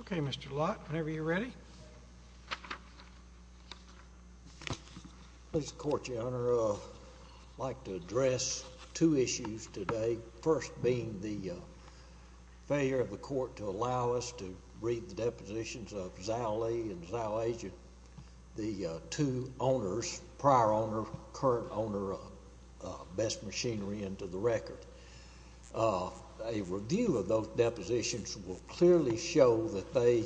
Okay, Mr. Lott, whenever you're ready. I'd like to address two issues today, the first being the failure of the court to allow us to read the depositions of Zow Lee and Zow Agent, the two owners, prior owner, current owner of Best Machinery, into the record. A review of those depositions will clearly show that they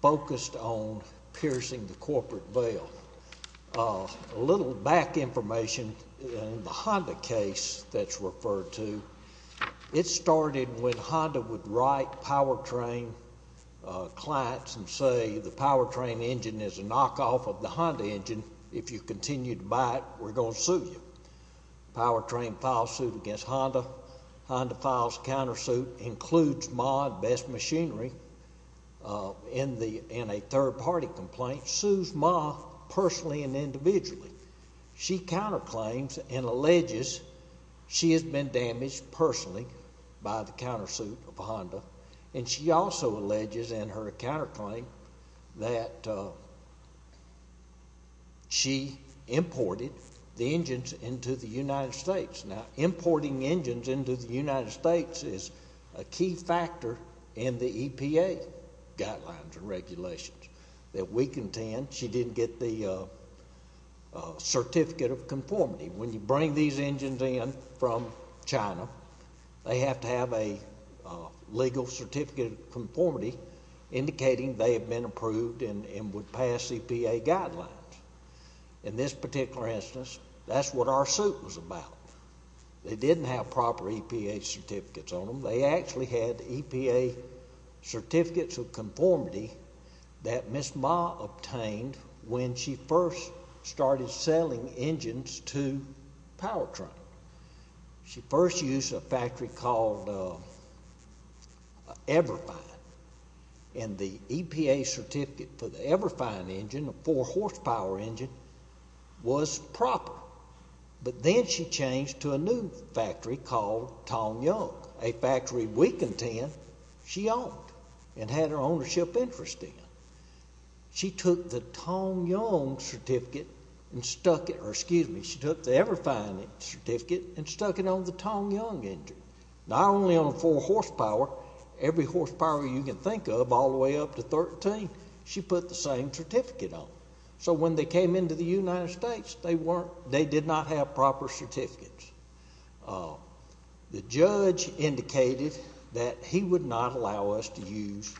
focused on piercing the corporate veil. A little back information, the Honda case that's referred to, it started when Honda would write Powertrain clients and say the Powertrain engine is a knockoff of the Honda engine. If you continue to buy it, we're going to sue you. Powertrain files suit against Honda, Honda files countersuit, includes Ma at Best Machinery in a third party complaint, sues Ma personally and individually. She counterclaims and alleges she has been damaged personally by the countersuit of Honda and she also alleges in her counterclaim that she imported the engines into the United States. Now, importing engines into the United States is a key factor in the EPA guidelines and regulations that we contend she didn't get the certificate of conformity. When you bring these engines in from China, they have to have a legal certificate of conformity indicating they have been approved and would pass EPA guidelines. In this particular instance, that's what our suit was about. They didn't have proper EPA certificates on them. They actually had EPA certificates of conformity that Ms. Ma obtained when she first started selling engines to Powertrain. She first used a factory called Everfine and the EPA certificate for the Everfine engine, a four horsepower engine, was proper. But then she changed to a new factory called Tong Young, a factory we contend she owned and had her ownership interest in. She took the Tong Young certificate and stuck it, or excuse me, she took the Everfine certificate and stuck it on the Tong Young engine, not only on a four horsepower, every horsepower you can think of all the way up to 13, she put the same certificate on. So when they came into the United States, they did not have proper certificates. The judge indicated that he would not allow us to use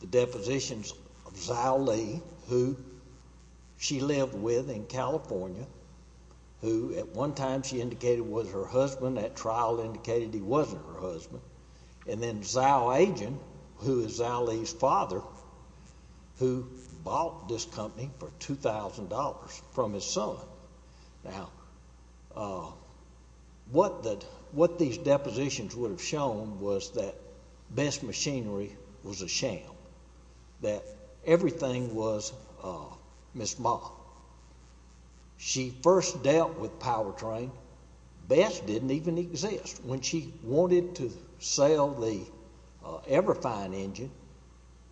the depositions of Zao Lee, who she lived with in California, who at one time she indicated was her husband. That trial indicated he wasn't her husband. And then Zao Agent, who is Zao Lee's father, who bought this company for $2,000 from his son. Now, what these depositions would have shown was that Bess Machinery was a sham, that everything was Miss Ma. She first dealt with Powertrain. Bess didn't even exist. When she wanted to sell the Everfine engine,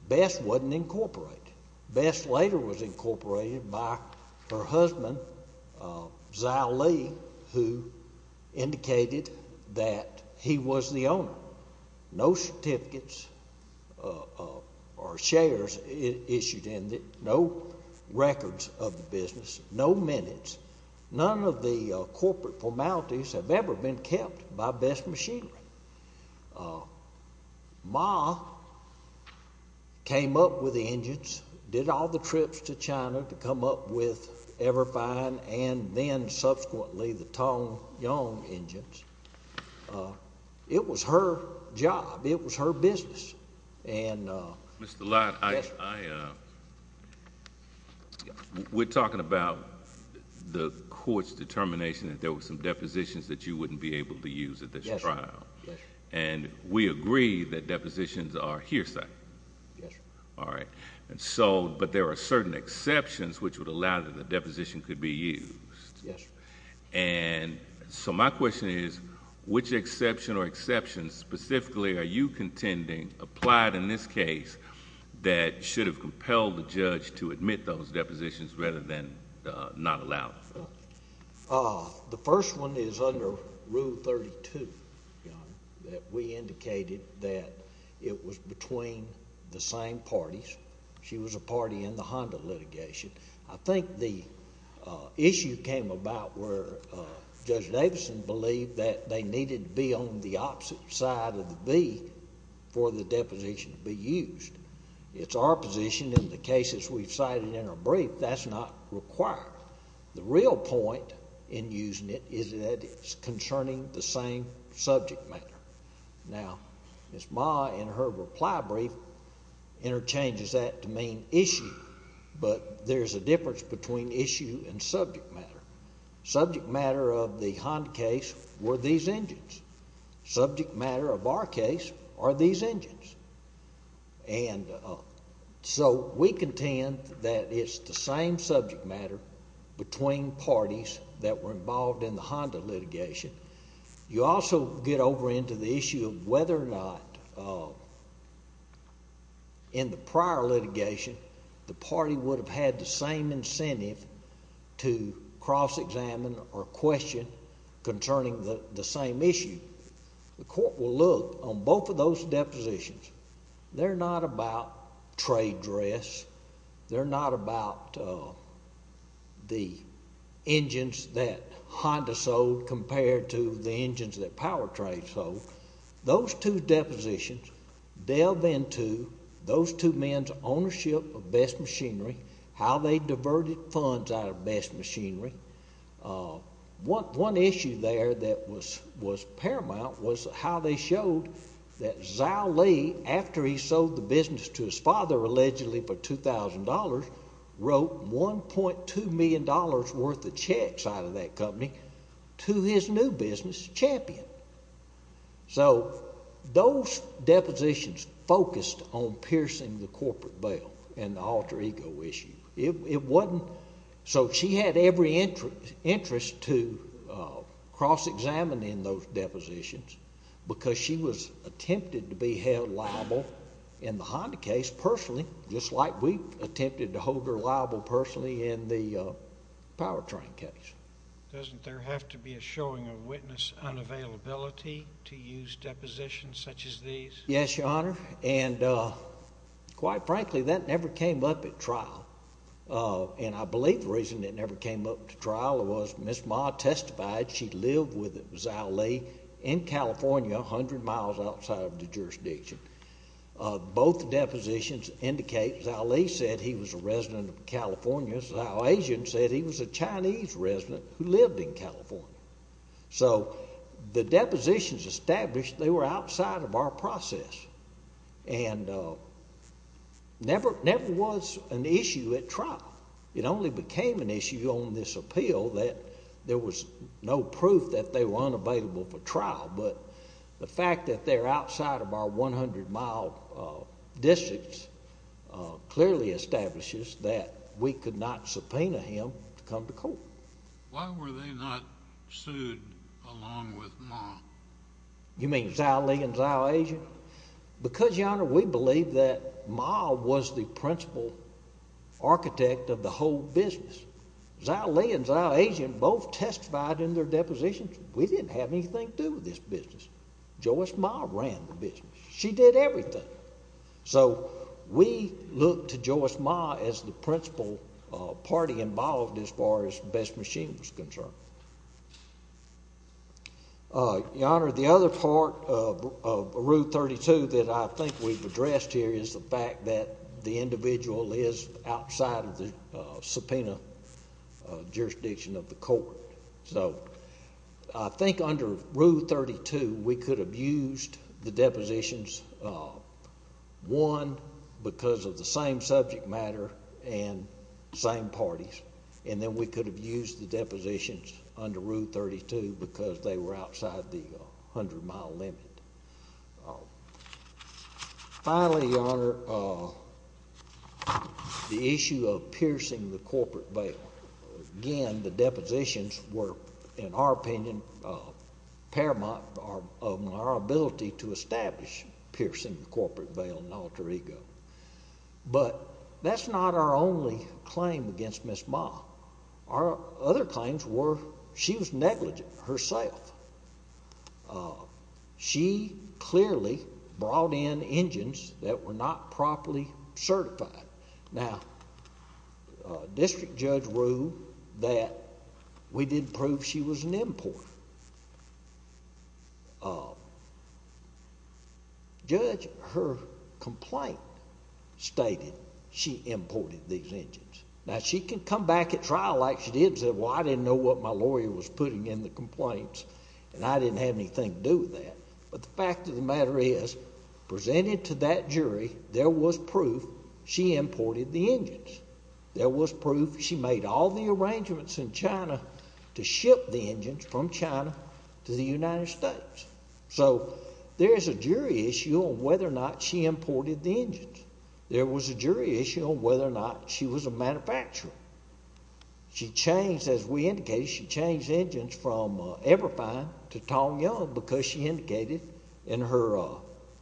Bess wasn't incorporated. Bess later was incorporated by her husband, Zao Lee, who indicated that he was the owner. No certificates or shares issued in it, no records of the business, no minutes. None of the corporate formalities have ever been kept by Bess Machinery. Ma came up with the engines, did all the trips to China to come up with Everfine and then subsequently the Tong Yong engines. It was her job. It was her business. Mr. Lott, I— Yes, sir. We're talking about the court's determination that there were some depositions that you Yes, sir. And we agree that depositions are hearsay. Yes, sir. All right. But there are certain exceptions which would allow that the deposition could be used. Yes, sir. And so my question is, which exception or exceptions specifically are you contending applied in this case that should have compelled the judge to admit those depositions rather than not allow them? The first one is under Rule 32, Your Honor, that we indicated that it was between the same parties. She was a party in the Honda litigation. I think the issue came about where Judge Davison believed that they needed to be on the opposite side of the V for the deposition to be used. It's our position in the cases we've cited in our brief, that's not required. The real point in using it is that it's concerning the same subject matter. Now, Ms. Ma in her reply brief interchanges that to mean issue. But there's a difference between issue and subject matter. Subject matter of the Honda case were these engines. Subject matter of our case are these engines. And so we contend that it's the same subject matter between parties that were involved in the Honda litigation. You also get over into the issue of whether or not in the prior litigation the party would have had the same incentive to cross-examine or question concerning the same issue. The court will look on both of those depositions. They're not about trade dress. They're not about the engines that Honda sold compared to the engines that Powertrade sold. Those two depositions delve into those two men's ownership of Best Machinery, how they diverted funds out of Best Machinery. One issue there that was paramount was how they showed that Zhao Li, after he sold the business to his father allegedly for $2,000, wrote $1.2 million worth of checks out of that company to his new business, Champion. So those depositions focused on piercing the corporate veil and alter ego issue. So she had every interest to cross-examine in those depositions because she was attempted to be held liable in the Honda case personally, just like we attempted to hold her liable personally in the Powertrain case. Doesn't there have to be a showing of witness unavailability to use depositions such as these? Yes, Your Honor. And quite frankly, that never came up at trial. And I believe the reason it never came up at trial was Ms. Ma testified she lived with Zhao Li in California, 100 miles outside of the jurisdiction. Both depositions indicate Zhao Li said he was a resident of California. Zhao Asian said he was a Chinese resident who lived in California. So the depositions established they were outside of our process, and never was an issue at trial. It only became an issue on this appeal that there was no proof that they were unavailable for trial. But the fact that they're outside of our 100-mile districts clearly establishes that we could not subpoena him to come to court. Why were they not sued along with Ma? You mean Zhao Li and Zhao Asian? Because, Your Honor, we believe that Ma was the principal architect of the whole business. Zhao Li and Zhao Asian both testified in their depositions we didn't have anything to do with this business. Joyce Ma ran the business. She did everything. So we looked to Joyce Ma as the principal party involved as far as Best Machines was concerned. Your Honor, the other part of Rule 32 that I think we've addressed here is the fact that the individual is outside of the subpoena jurisdiction of the court. So I think under Rule 32 we could have used the depositions, one, because of the same subject matter and same parties, and then we could have used the depositions under Rule 32 because they were outside the 100-mile limit. Finally, Your Honor, the issue of piercing the corporate bail. Again, the depositions were, in our opinion, paramount in our ability to establish piercing the corporate bail and alter ego. But that's not our only claim against Ms. Ma. Our other claims were she was negligent herself. She clearly brought in engines that were not properly certified. Now, District Judge ruled that we didn't prove she was an importer. Judge, her complaint stated she imported these engines. Now, she can come back at trial like she did and say, well, I didn't know what my lawyer was putting in the complaints and I didn't have anything to do with that. But the fact of the matter is, presented to that jury, there was proof she imported the engines. There was proof she made all the arrangements in China to ship the engines from China to the United States. So there is a jury issue on whether or not she imported the engines. There was a jury issue on whether or not she was a manufacturer. She changed, as we indicated, she changed the engines from Everfine to Tong Young because she indicated in her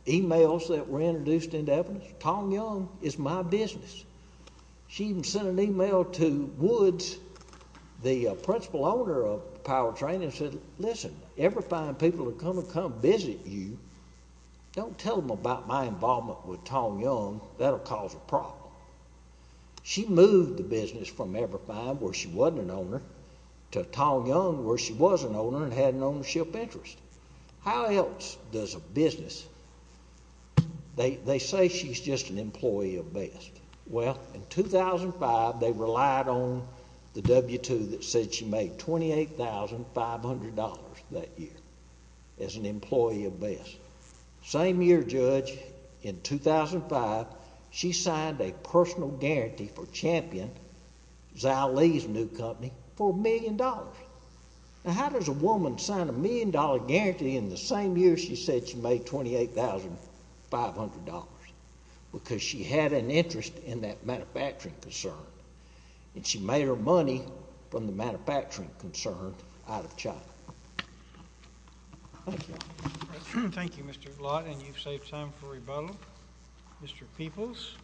emails that were introduced into evidence, Tong Young is my business. She even sent an email to Woods, the principal owner of Powertrain, and said, listen, Everfine people are going to come visit you. Don't tell them about my involvement with Tong Young. That will cause a problem. She moved the business from Everfine, where she wasn't an owner, to Tong Young, where she was an owner and had an ownership interest. How else does a business, they say she's just an employee of best. Well, in 2005, they relied on the W-2 that said she made $28,500 that year as an employee of best. Same year, Judge, in 2005, she signed a personal guarantee for Champion, Zhao Li's new company, for $1 million. Now, how does a woman sign a $1 million guarantee in the same year she said she made $28,500? Because she had an interest in that manufacturing concern, and she made her money from the manufacturing concern out of China. Thank you. Thank you, Mr. Blatt, and you've saved time for rebuttal. Mr. Peoples.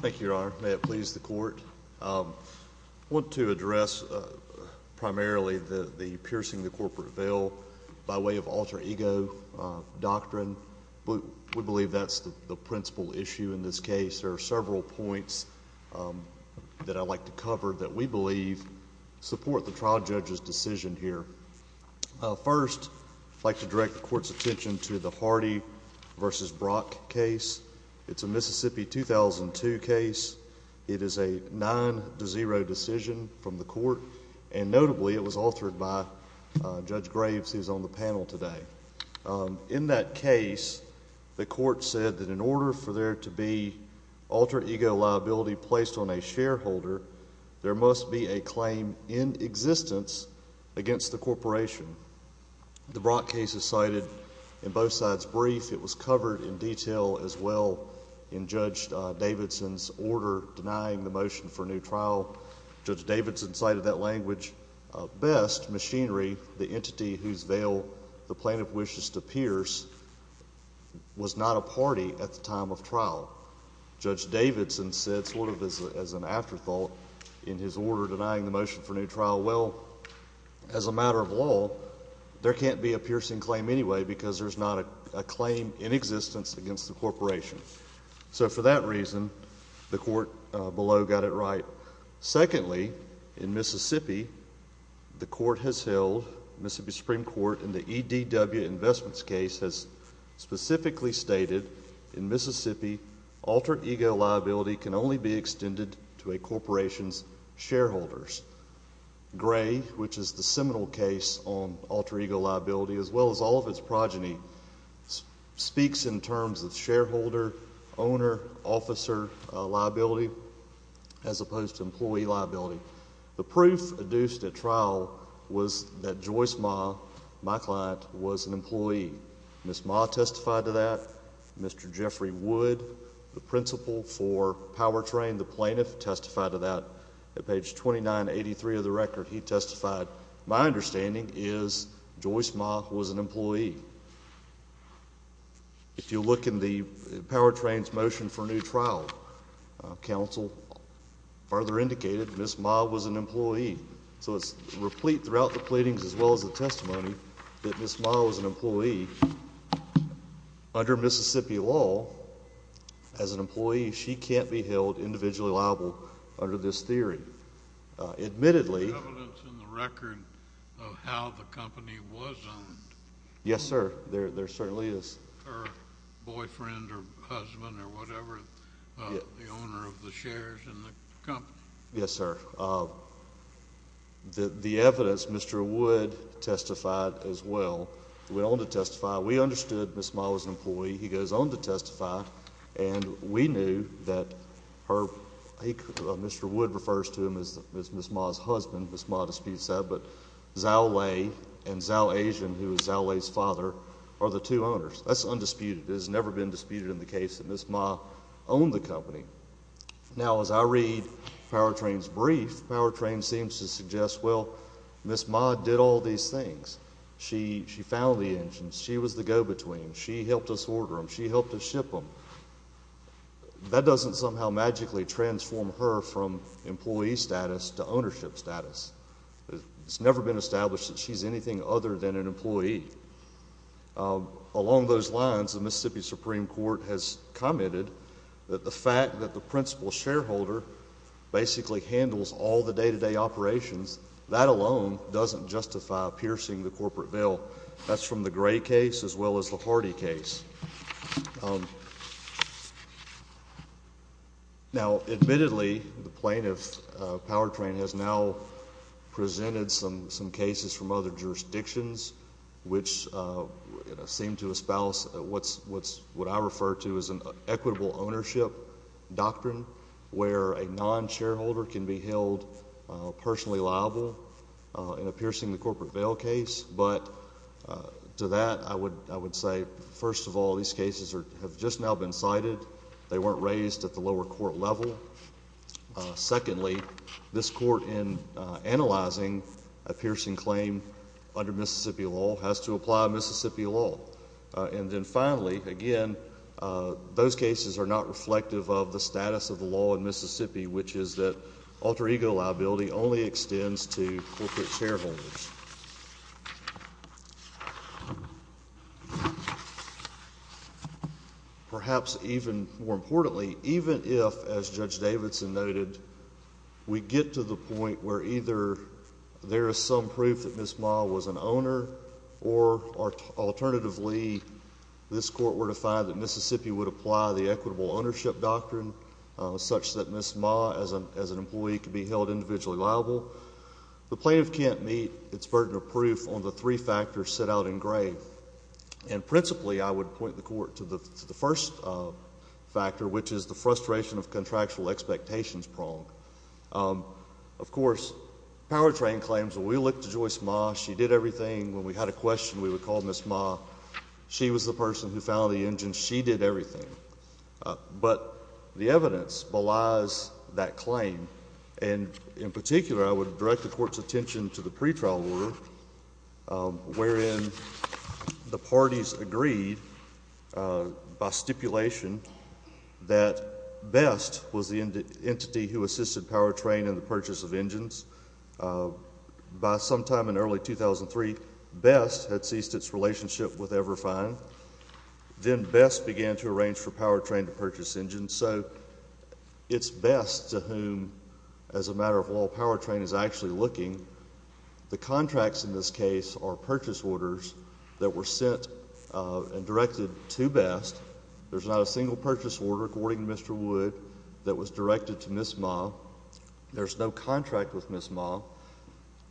Thank you, Your Honor. May it please the Court. I want to address primarily the piercing the corporate veil by way of alter ego doctrine. We believe that's the principal issue in this case. There are several points that I'd like to cover that we believe support the trial judge's decision here. First, I'd like to direct the Court's attention to the Hardy v. Brock case. It's a Mississippi 2002 case. It is a 9-0 decision from the Court, and notably, it was altered by Judge Graves, who's on the panel today. In that case, the Court said that in order for there to be alter ego liability placed on a shareholder, there must be a claim in existence against the corporation. The Brock case is cited in both sides' brief. It was covered in detail as well in Judge Davidson's order denying the motion for a new trial. Judge Davidson cited that language best. Machinery, the entity whose veil the plaintiff wishes to pierce, was not a party at the time of trial. Judge Davidson said sort of as an afterthought in his order denying the motion for a new trial, well, as a matter of law, there can't be a piercing claim anyway because there's not a claim in existence against the corporation. So for that reason, the Court below got it right. Secondly, in Mississippi, the Court has held, Mississippi Supreme Court, in the EDW Investments case has specifically stated in Mississippi, alter ego liability can only be extended to a corporation's shareholders. Gray, which is the seminal case on alter ego liability, as well as all of its progeny, speaks in terms of shareholder, owner, officer liability as opposed to employee liability. The proof adduced at trial was that Joyce Ma, my client, was an employee. Ms. Ma testified to that. Mr. Jeffrey Wood, the principal for Powertrain, the plaintiff, testified to that. At page 2983 of the record, he testified. My understanding is Joyce Ma was an employee. If you look in the Powertrain's motion for a new trial, counsel further indicated Ms. Ma was an employee. So it's replete throughout the pleadings as well as the testimony that Ms. Ma was an employee. Under Mississippi law, as an employee, she can't be held individually liable under this theory. Admittedly. Is there evidence in the record of how the company was owned? Yes, sir. There certainly is. Her boyfriend or husband or whatever, the owner of the shares in the company? Yes, sir. The evidence, Mr. Wood testified as well. He went on to testify. We understood Ms. Ma was an employee. He goes on to testify. And we knew that Mr. Wood refers to him as Ms. Ma's husband. Ms. Ma disputes that. But Zhao Lei and Zhao Asian, who is Zhao Lei's father, are the two owners. That's undisputed. It has never been disputed in the case that Ms. Ma owned the company. Now, as I read Powertrain's brief, Powertrain seems to suggest, well, Ms. Ma did all these things. She found the engines. She was the go-between. She helped us order them. She helped us ship them. That doesn't somehow magically transform her from employee status to ownership status. It's never been established that she's anything other than an employee. Along those lines, the Mississippi Supreme Court has commented that the fact that the principal shareholder basically handles all the day-to-day operations, that alone doesn't justify piercing the corporate veil. That's from the Gray case as well as the Hardy case. Now, admittedly, the plaintiff, Powertrain, has now presented some cases from other jurisdictions, which seem to espouse what I refer to as an equitable ownership doctrine, where a non-shareholder can be held personally liable in a piercing the corporate veil case. But to that, I would say, first of all, these cases have just now been cited. They weren't raised at the lower court level. Secondly, this court, in analyzing a piercing claim under Mississippi law, has to apply Mississippi law. And then finally, again, those cases are not reflective of the status of the law in Mississippi, which is that alter ego liability only extends to corporate shareholders. Perhaps even more importantly, even if, as Judge Davidson noted, we get to the point where either there is some proof that Ms. Ma was an owner, or alternatively, this court were to find that Mississippi would apply the equitable ownership doctrine such that Ms. Ma, as an employee, could be held individually liable, the plaintiff can't meet its burden of proof on the three factors set out in Gray. And principally, I would point the court to the first factor, which is the frustration of contractual expectations prong. Of course, Powertrain claims, when we looked at Joyce Ma, she did everything. When we had a question, we would call Ms. Ma. She was the person who found the engine. She did everything. But the evidence belies that claim. And in particular, I would direct the court's attention to the pretrial order, wherein the parties agreed by stipulation that Best was the entity who assisted Powertrain in the purchase of engines. By sometime in early 2003, Best had ceased its relationship with Everfine. Then Best began to arrange for Powertrain to purchase engines. So it's Best to whom, as a matter of law, Powertrain is actually looking. The contracts in this case are purchase orders that were sent and directed to Best. There's not a single purchase order, according to Mr. Wood, that was directed to Ms. Ma. There's no contract with Ms. Ma.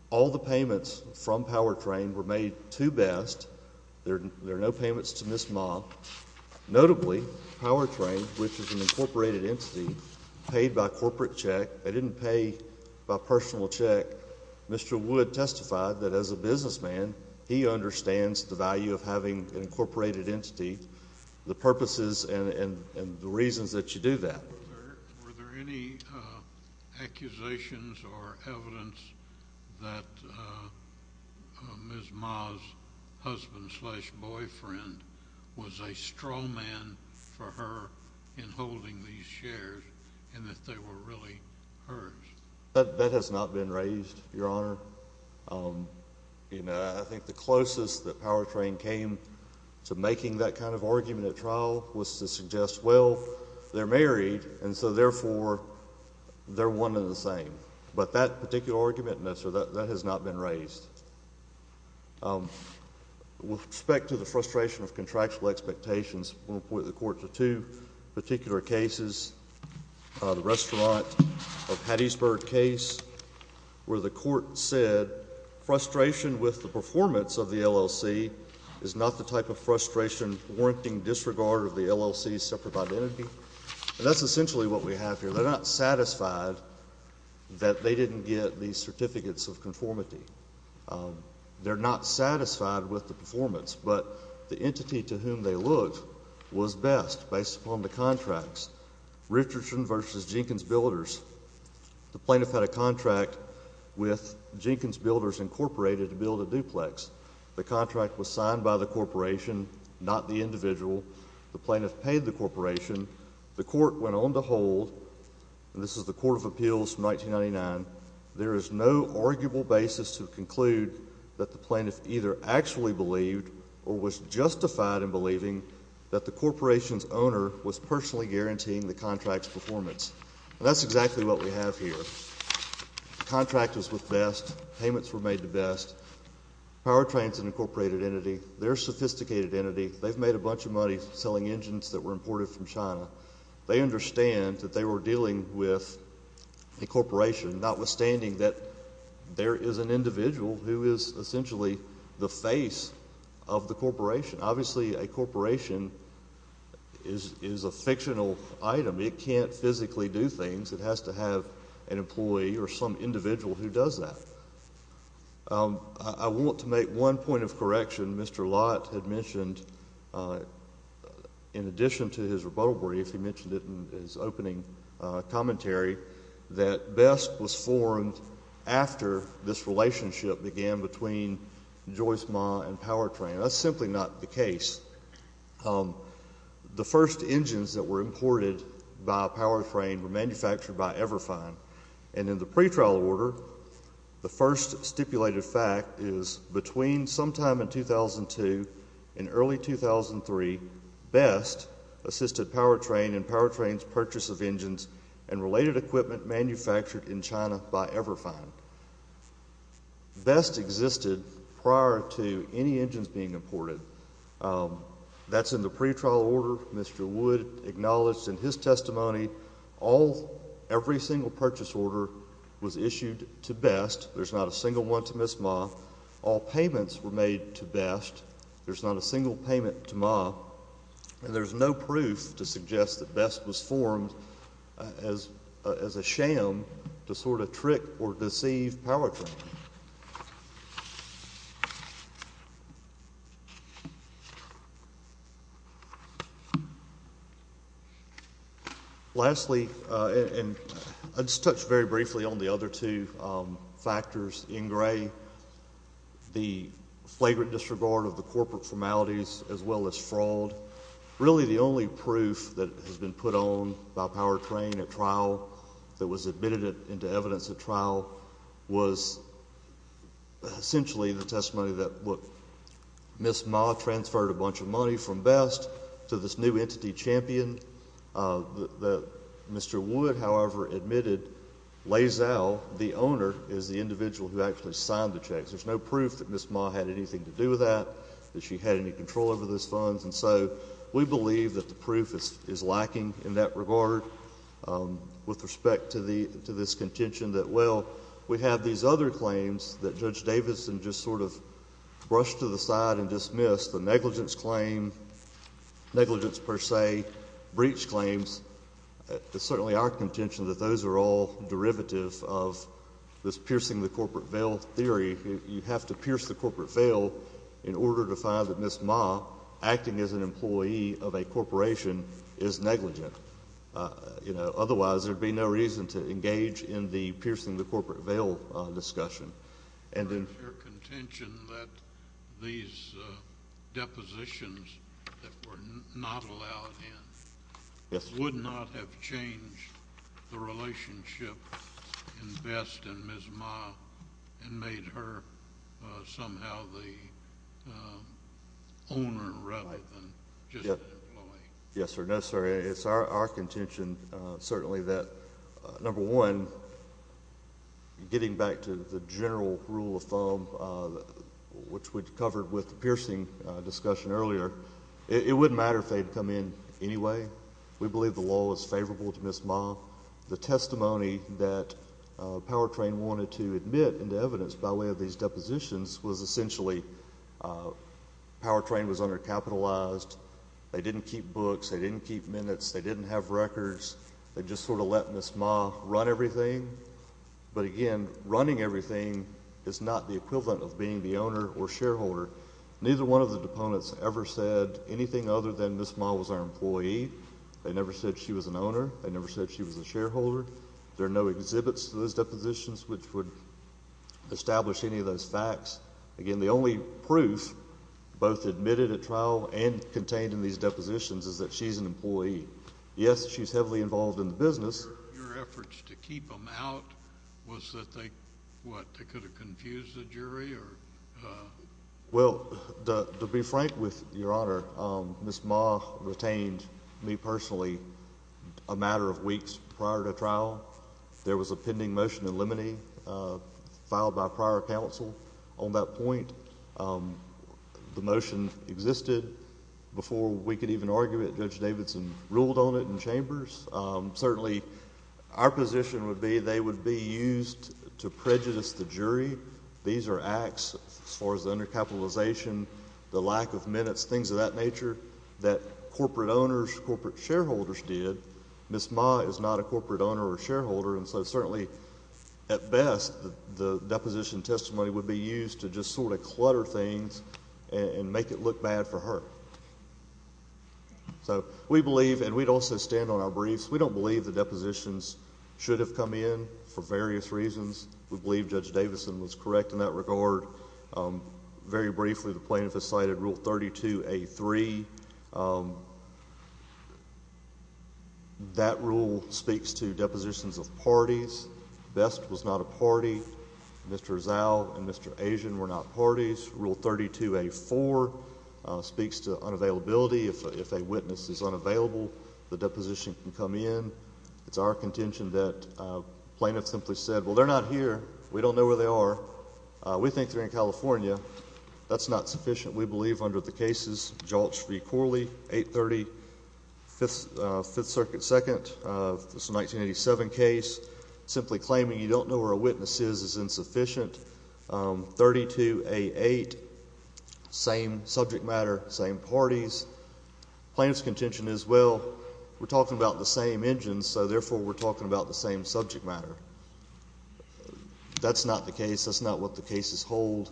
All the payments from Powertrain were made to Best. There are no payments to Ms. Ma. Notably, Powertrain, which is an incorporated entity, paid by corporate check. They didn't pay by personal check. Mr. Wood testified that as a businessman, he understands the value of having an incorporated entity, the purposes and the reasons that you do that. Were there any accusations or evidence that Ms. Ma's husband-slash-boyfriend was a straw man for her in holding these shares and that they were really hers? That has not been raised, Your Honor. I think the closest that Powertrain came to making that kind of argument at trial was to suggest, well, they're married, and so, therefore, they're one and the same. But that particular argument, Mr. Wood, that has not been raised. With respect to the frustration of contractual expectations, I'm going to point the Court to two particular cases. The Restaurant of Hattiesburg case where the Court said frustration with the performance of the LLC is not the type of frustration warranting disregard of the LLC's separate identity. And that's essentially what we have here. They're not satisfied that they didn't get the certificates of conformity. They're not satisfied with the performance, but the entity to whom they looked was best based upon the contracts. Richardson v. Jenkins Builders, the plaintiff had a contract with Jenkins Builders Incorporated to build a duplex. The contract was signed by the corporation, not the individual. The plaintiff paid the corporation. The Court went on to hold, and this is the Court of Appeals from 1999, there is no arguable basis to conclude that the plaintiff either actually believed or was justified in believing that the corporation's owner was personally guaranteeing the contract's performance. And that's exactly what we have here. The contract was with best. Payments were made to best. Powertrain is an incorporated entity. They're a sophisticated entity. They've made a bunch of money selling engines that were imported from China. They understand that they were dealing with a corporation, notwithstanding that there is an individual who is essentially the face of the corporation. Obviously, a corporation is a fictional item. It can't physically do things. It has to have an employee or some individual who does that. I want to make one point of correction. Mr. Lott had mentioned, in addition to his rebuttal brief, he mentioned it in his opening commentary, that best was formed after this relationship began between Joyce Ma and Powertrain. That's simply not the case. The first engines that were imported by Powertrain were manufactured by Everfine. And in the pretrial order, the first stipulated fact is between sometime in 2002 and early 2003, best assisted Powertrain and Powertrain's purchase of engines and related equipment manufactured in China by Everfine. Best existed prior to any engines being imported. That's in the pretrial order. Mr. Wood acknowledged in his testimony every single purchase order was issued to best. There's not a single one to Miss Ma. All payments were made to best. There's not a single payment to Ma. And there's no proof to suggest that best was formed as a sham to sort of trick or deceive Powertrain. Thank you. Lastly, and I'll just touch very briefly on the other two factors in gray, the flagrant disregard of the corporate formalities as well as fraud. Really the only proof that has been put on by Powertrain at trial that was admitted into evidence at trial was essentially the testimony that Miss Ma transferred a bunch of money from best to this new entity, Champion. Mr. Wood, however, admitted Lazell, the owner, is the individual who actually signed the checks. There's no proof that Miss Ma had anything to do with that, that she had any control over those funds. And so we believe that the proof is lacking in that regard with respect to this contention that, well, we have these other claims that Judge Davidson just sort of brushed to the side and dismissed, the negligence claim, negligence per se, breach claims. It's certainly our contention that those are all derivative of this piercing the corporate veil theory. You have to pierce the corporate veil in order to find that Miss Ma, acting as an employee of a corporation, is negligent. Otherwise, there would be no reason to engage in the piercing the corporate veil discussion. Your contention that these depositions that were not allowed in would not have changed the relationship in Best and Miss Ma and made her somehow the owner rather than just an employee. Yes, sir. No, sir. It's our contention, certainly, that, number one, getting back to the general rule of thumb, which we covered with the piercing discussion earlier, it wouldn't matter if they had come in anyway. We believe the law was favorable to Miss Ma. The testimony that Powertrain wanted to admit into evidence by way of these depositions was essentially Powertrain was undercapitalized. They didn't keep books. They didn't keep minutes. They didn't have records. They just sort of let Miss Ma run everything. But, again, running everything is not the equivalent of being the owner or shareholder. Neither one of the deponents ever said anything other than Miss Ma was our employee. They never said she was an owner. They never said she was a shareholder. There are no exhibits to those depositions which would establish any of those facts. Again, the only proof both admitted at trial and contained in these depositions is that she's an employee. Yes, she's heavily involved in the business. Your efforts to keep them out was that they could have confused the jury? Well, to be frank with Your Honor, Miss Ma retained me personally a matter of weeks prior to trial. There was a pending motion in limine filed by prior counsel on that point. The motion existed before we could even argue it. Judge Davidson ruled on it in chambers. Certainly, our position would be they would be used to prejudice the jury. These are acts as far as undercapitalization, the lack of minutes, things of that nature that corporate owners, corporate shareholders did. Miss Ma is not a corporate owner or shareholder, and so certainly, at best, the deposition testimony would be used to just sort of clutter things and make it look bad for her. So we believe, and we'd also stand on our briefs, we don't believe the depositions should have come in for various reasons. We believe Judge Davidson was correct in that regard. Very briefly, the plaintiff has cited Rule 32A.3. That rule speaks to depositions of parties. Best was not a party. Mr. Zao and Mr. Asian were not parties. Rule 32A.4 speaks to unavailability. If a witness is unavailable, the deposition can come in. It's our contention that plaintiffs simply said, well, they're not here. We don't know where they are. We think they're in California. That's not sufficient, we believe, under the cases Joltz v. Corley, 830 Fifth Circuit 2nd. It's a 1987 case. Simply claiming you don't know where a witness is is insufficient. 32A.8, same subject matter, same parties. Plaintiff's contention is, well, we're talking about the same engines, so therefore we're talking about the same subject matter. That's not the case. That's not what the cases hold.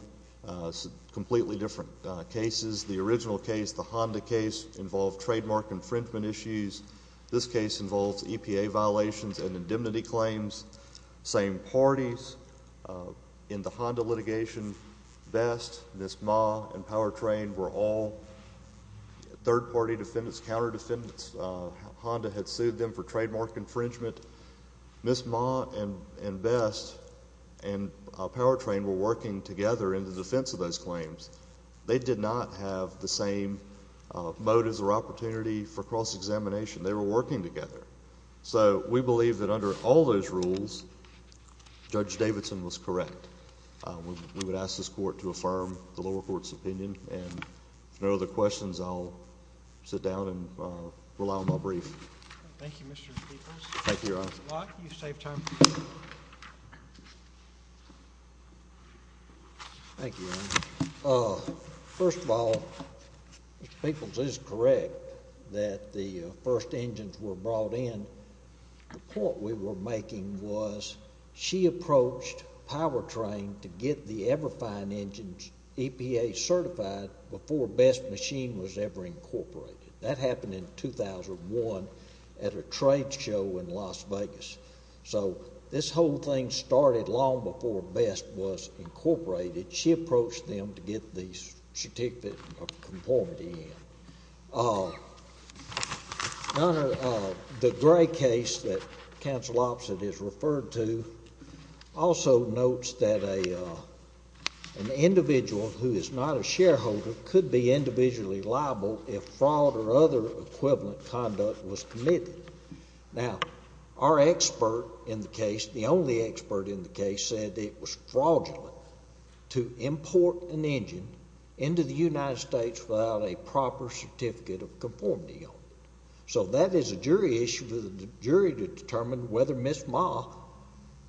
Completely different cases. The original case, the Honda case, involved trademark infringement issues. This case involves EPA violations and indemnity claims. Same parties in the Honda litigation. Best, Ms. Ma, and Powertrain were all third-party defendants, counter-defendants. Honda had sued them for trademark infringement. Ms. Ma and Best and Powertrain were working together in the defense of those claims. They did not have the same motives or opportunity for cross-examination. They were working together. So we believe that under all those rules, Judge Davidson was correct. We would ask this court to affirm the lower court's opinion. If there are no other questions, I'll sit down and rely on my brief. Thank you, Mr. Speaker. Thank you, Your Honor. Thank you, Your Honor. First of all, Mr. Peoples is correct that the first engines were brought in. The point we were making was she approached Powertrain to get the Everfine engines EPA certified before Best Machine was ever incorporated. That happened in 2001 at a trade show in Las Vegas. So this whole thing started long before Best was incorporated. She approached them to get the certificate of conformity in. Your Honor, the Gray case that Counsel Opposite is referred to also notes that an individual who is not a shareholder could be individually liable if fraud or other equivalent conduct was committed. Now, our expert in the case, the only expert in the case, said it was fraudulent to import an engine into the United States without a proper certificate of conformity on it. So that is a jury issue for the jury to determine whether Miss Ma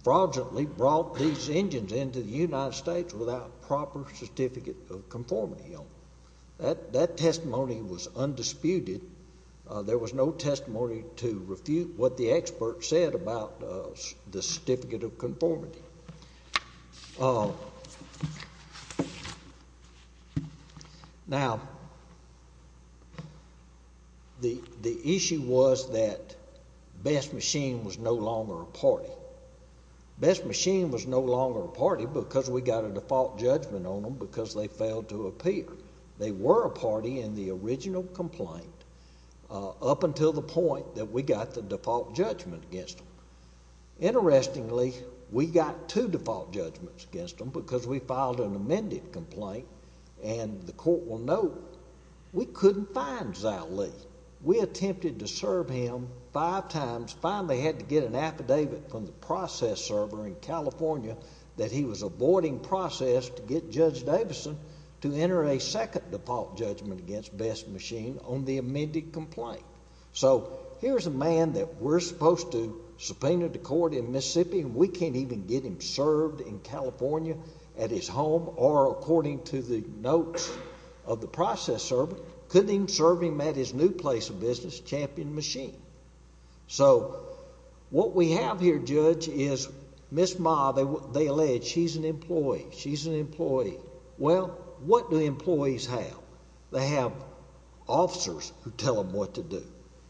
fraudulently brought these engines into the United States without a proper certificate of conformity on them. That testimony was undisputed. There was no testimony to refute what the expert said about the certificate of conformity. Now, the issue was that Best Machine was no longer a party. Best Machine was no longer a party because we got a default judgment on them because they failed to appear. They were a party in the original complaint up until the point that we got the default judgment against them. Interestingly, we got two default judgments against them because we filed an amended complaint. And the court will note, we couldn't find Xia Li. We attempted to serve him five times, finally had to get an affidavit from the process server in California that he was avoiding process to get Judge Davison to enter a second default judgment against Best Machine on the amended complaint. So here's a man that we're supposed to subpoena the court in Mississippi, and we can't even get him served in California at his home or according to the notes of the process server. Couldn't even serve him at his new place of business, Champion Machine. So what we have here, Judge, is Ms. Ma, they allege she's an employee. She's an employee. Well, what do employees have? They have officers who tell them what to do.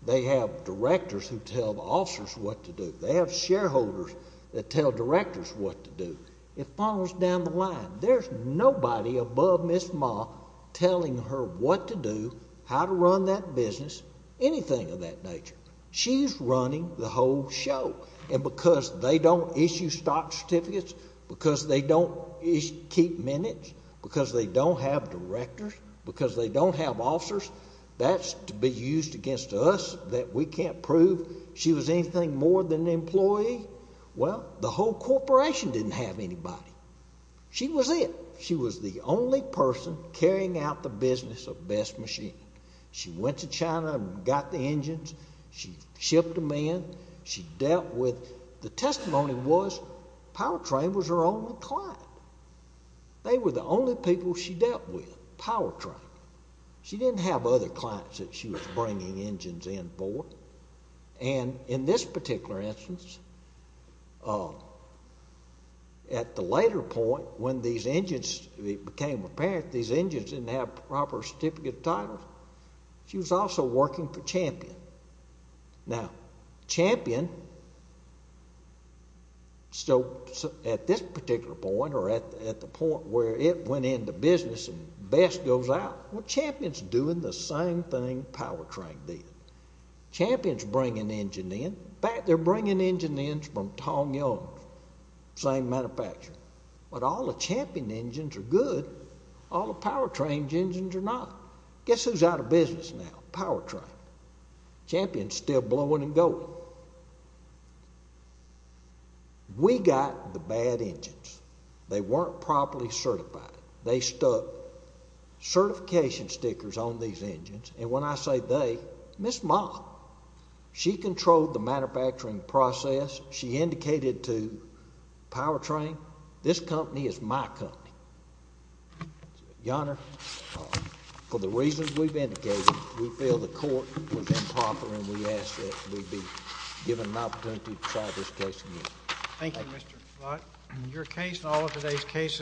They have directors who tell the officers what to do. They have shareholders that tell directors what to do. It follows down the line. There's nobody above Ms. Ma telling her what to do, how to run that business, anything of that nature. She's running the whole show. And because they don't issue stock certificates, because they don't keep minutes, because they don't have directors, because they don't have officers, that's to be used against us that we can't prove she was anything more than an employee. Well, the whole corporation didn't have anybody. She was it. She was the only person carrying out the business of Best Machine. She went to China and got the engines. She shipped them in. She dealt with the testimony was Powertrain was her only client. They were the only people she dealt with, Powertrain. She didn't have other clients that she was bringing engines in for. And in this particular instance, at the later point, when these engines became apparent, these engines didn't have proper certificate titles. She was also working for Champion. Now, Champion, at this particular point or at the point where it went into business and Best goes out, well, Champion's doing the same thing Powertrain did. Champion's bringing engines in. In fact, they're bringing engines in from Tong Young, the same manufacturer. But all the Champion engines are good. All the Powertrain engines are not. Guess who's out of business now? Powertrain. Champion's still blowing and going. We got the bad engines. They weren't properly certified. They stuck certification stickers on these engines. And when I say they, Ms. Mott. She controlled the manufacturing process. She indicated to Powertrain, this company is my company. Your Honor, for the reasons we've indicated, we feel the court was improper and we ask that we be given an opportunity to try this case again. Thank you, Mr. Flott. Your case and all of today's cases.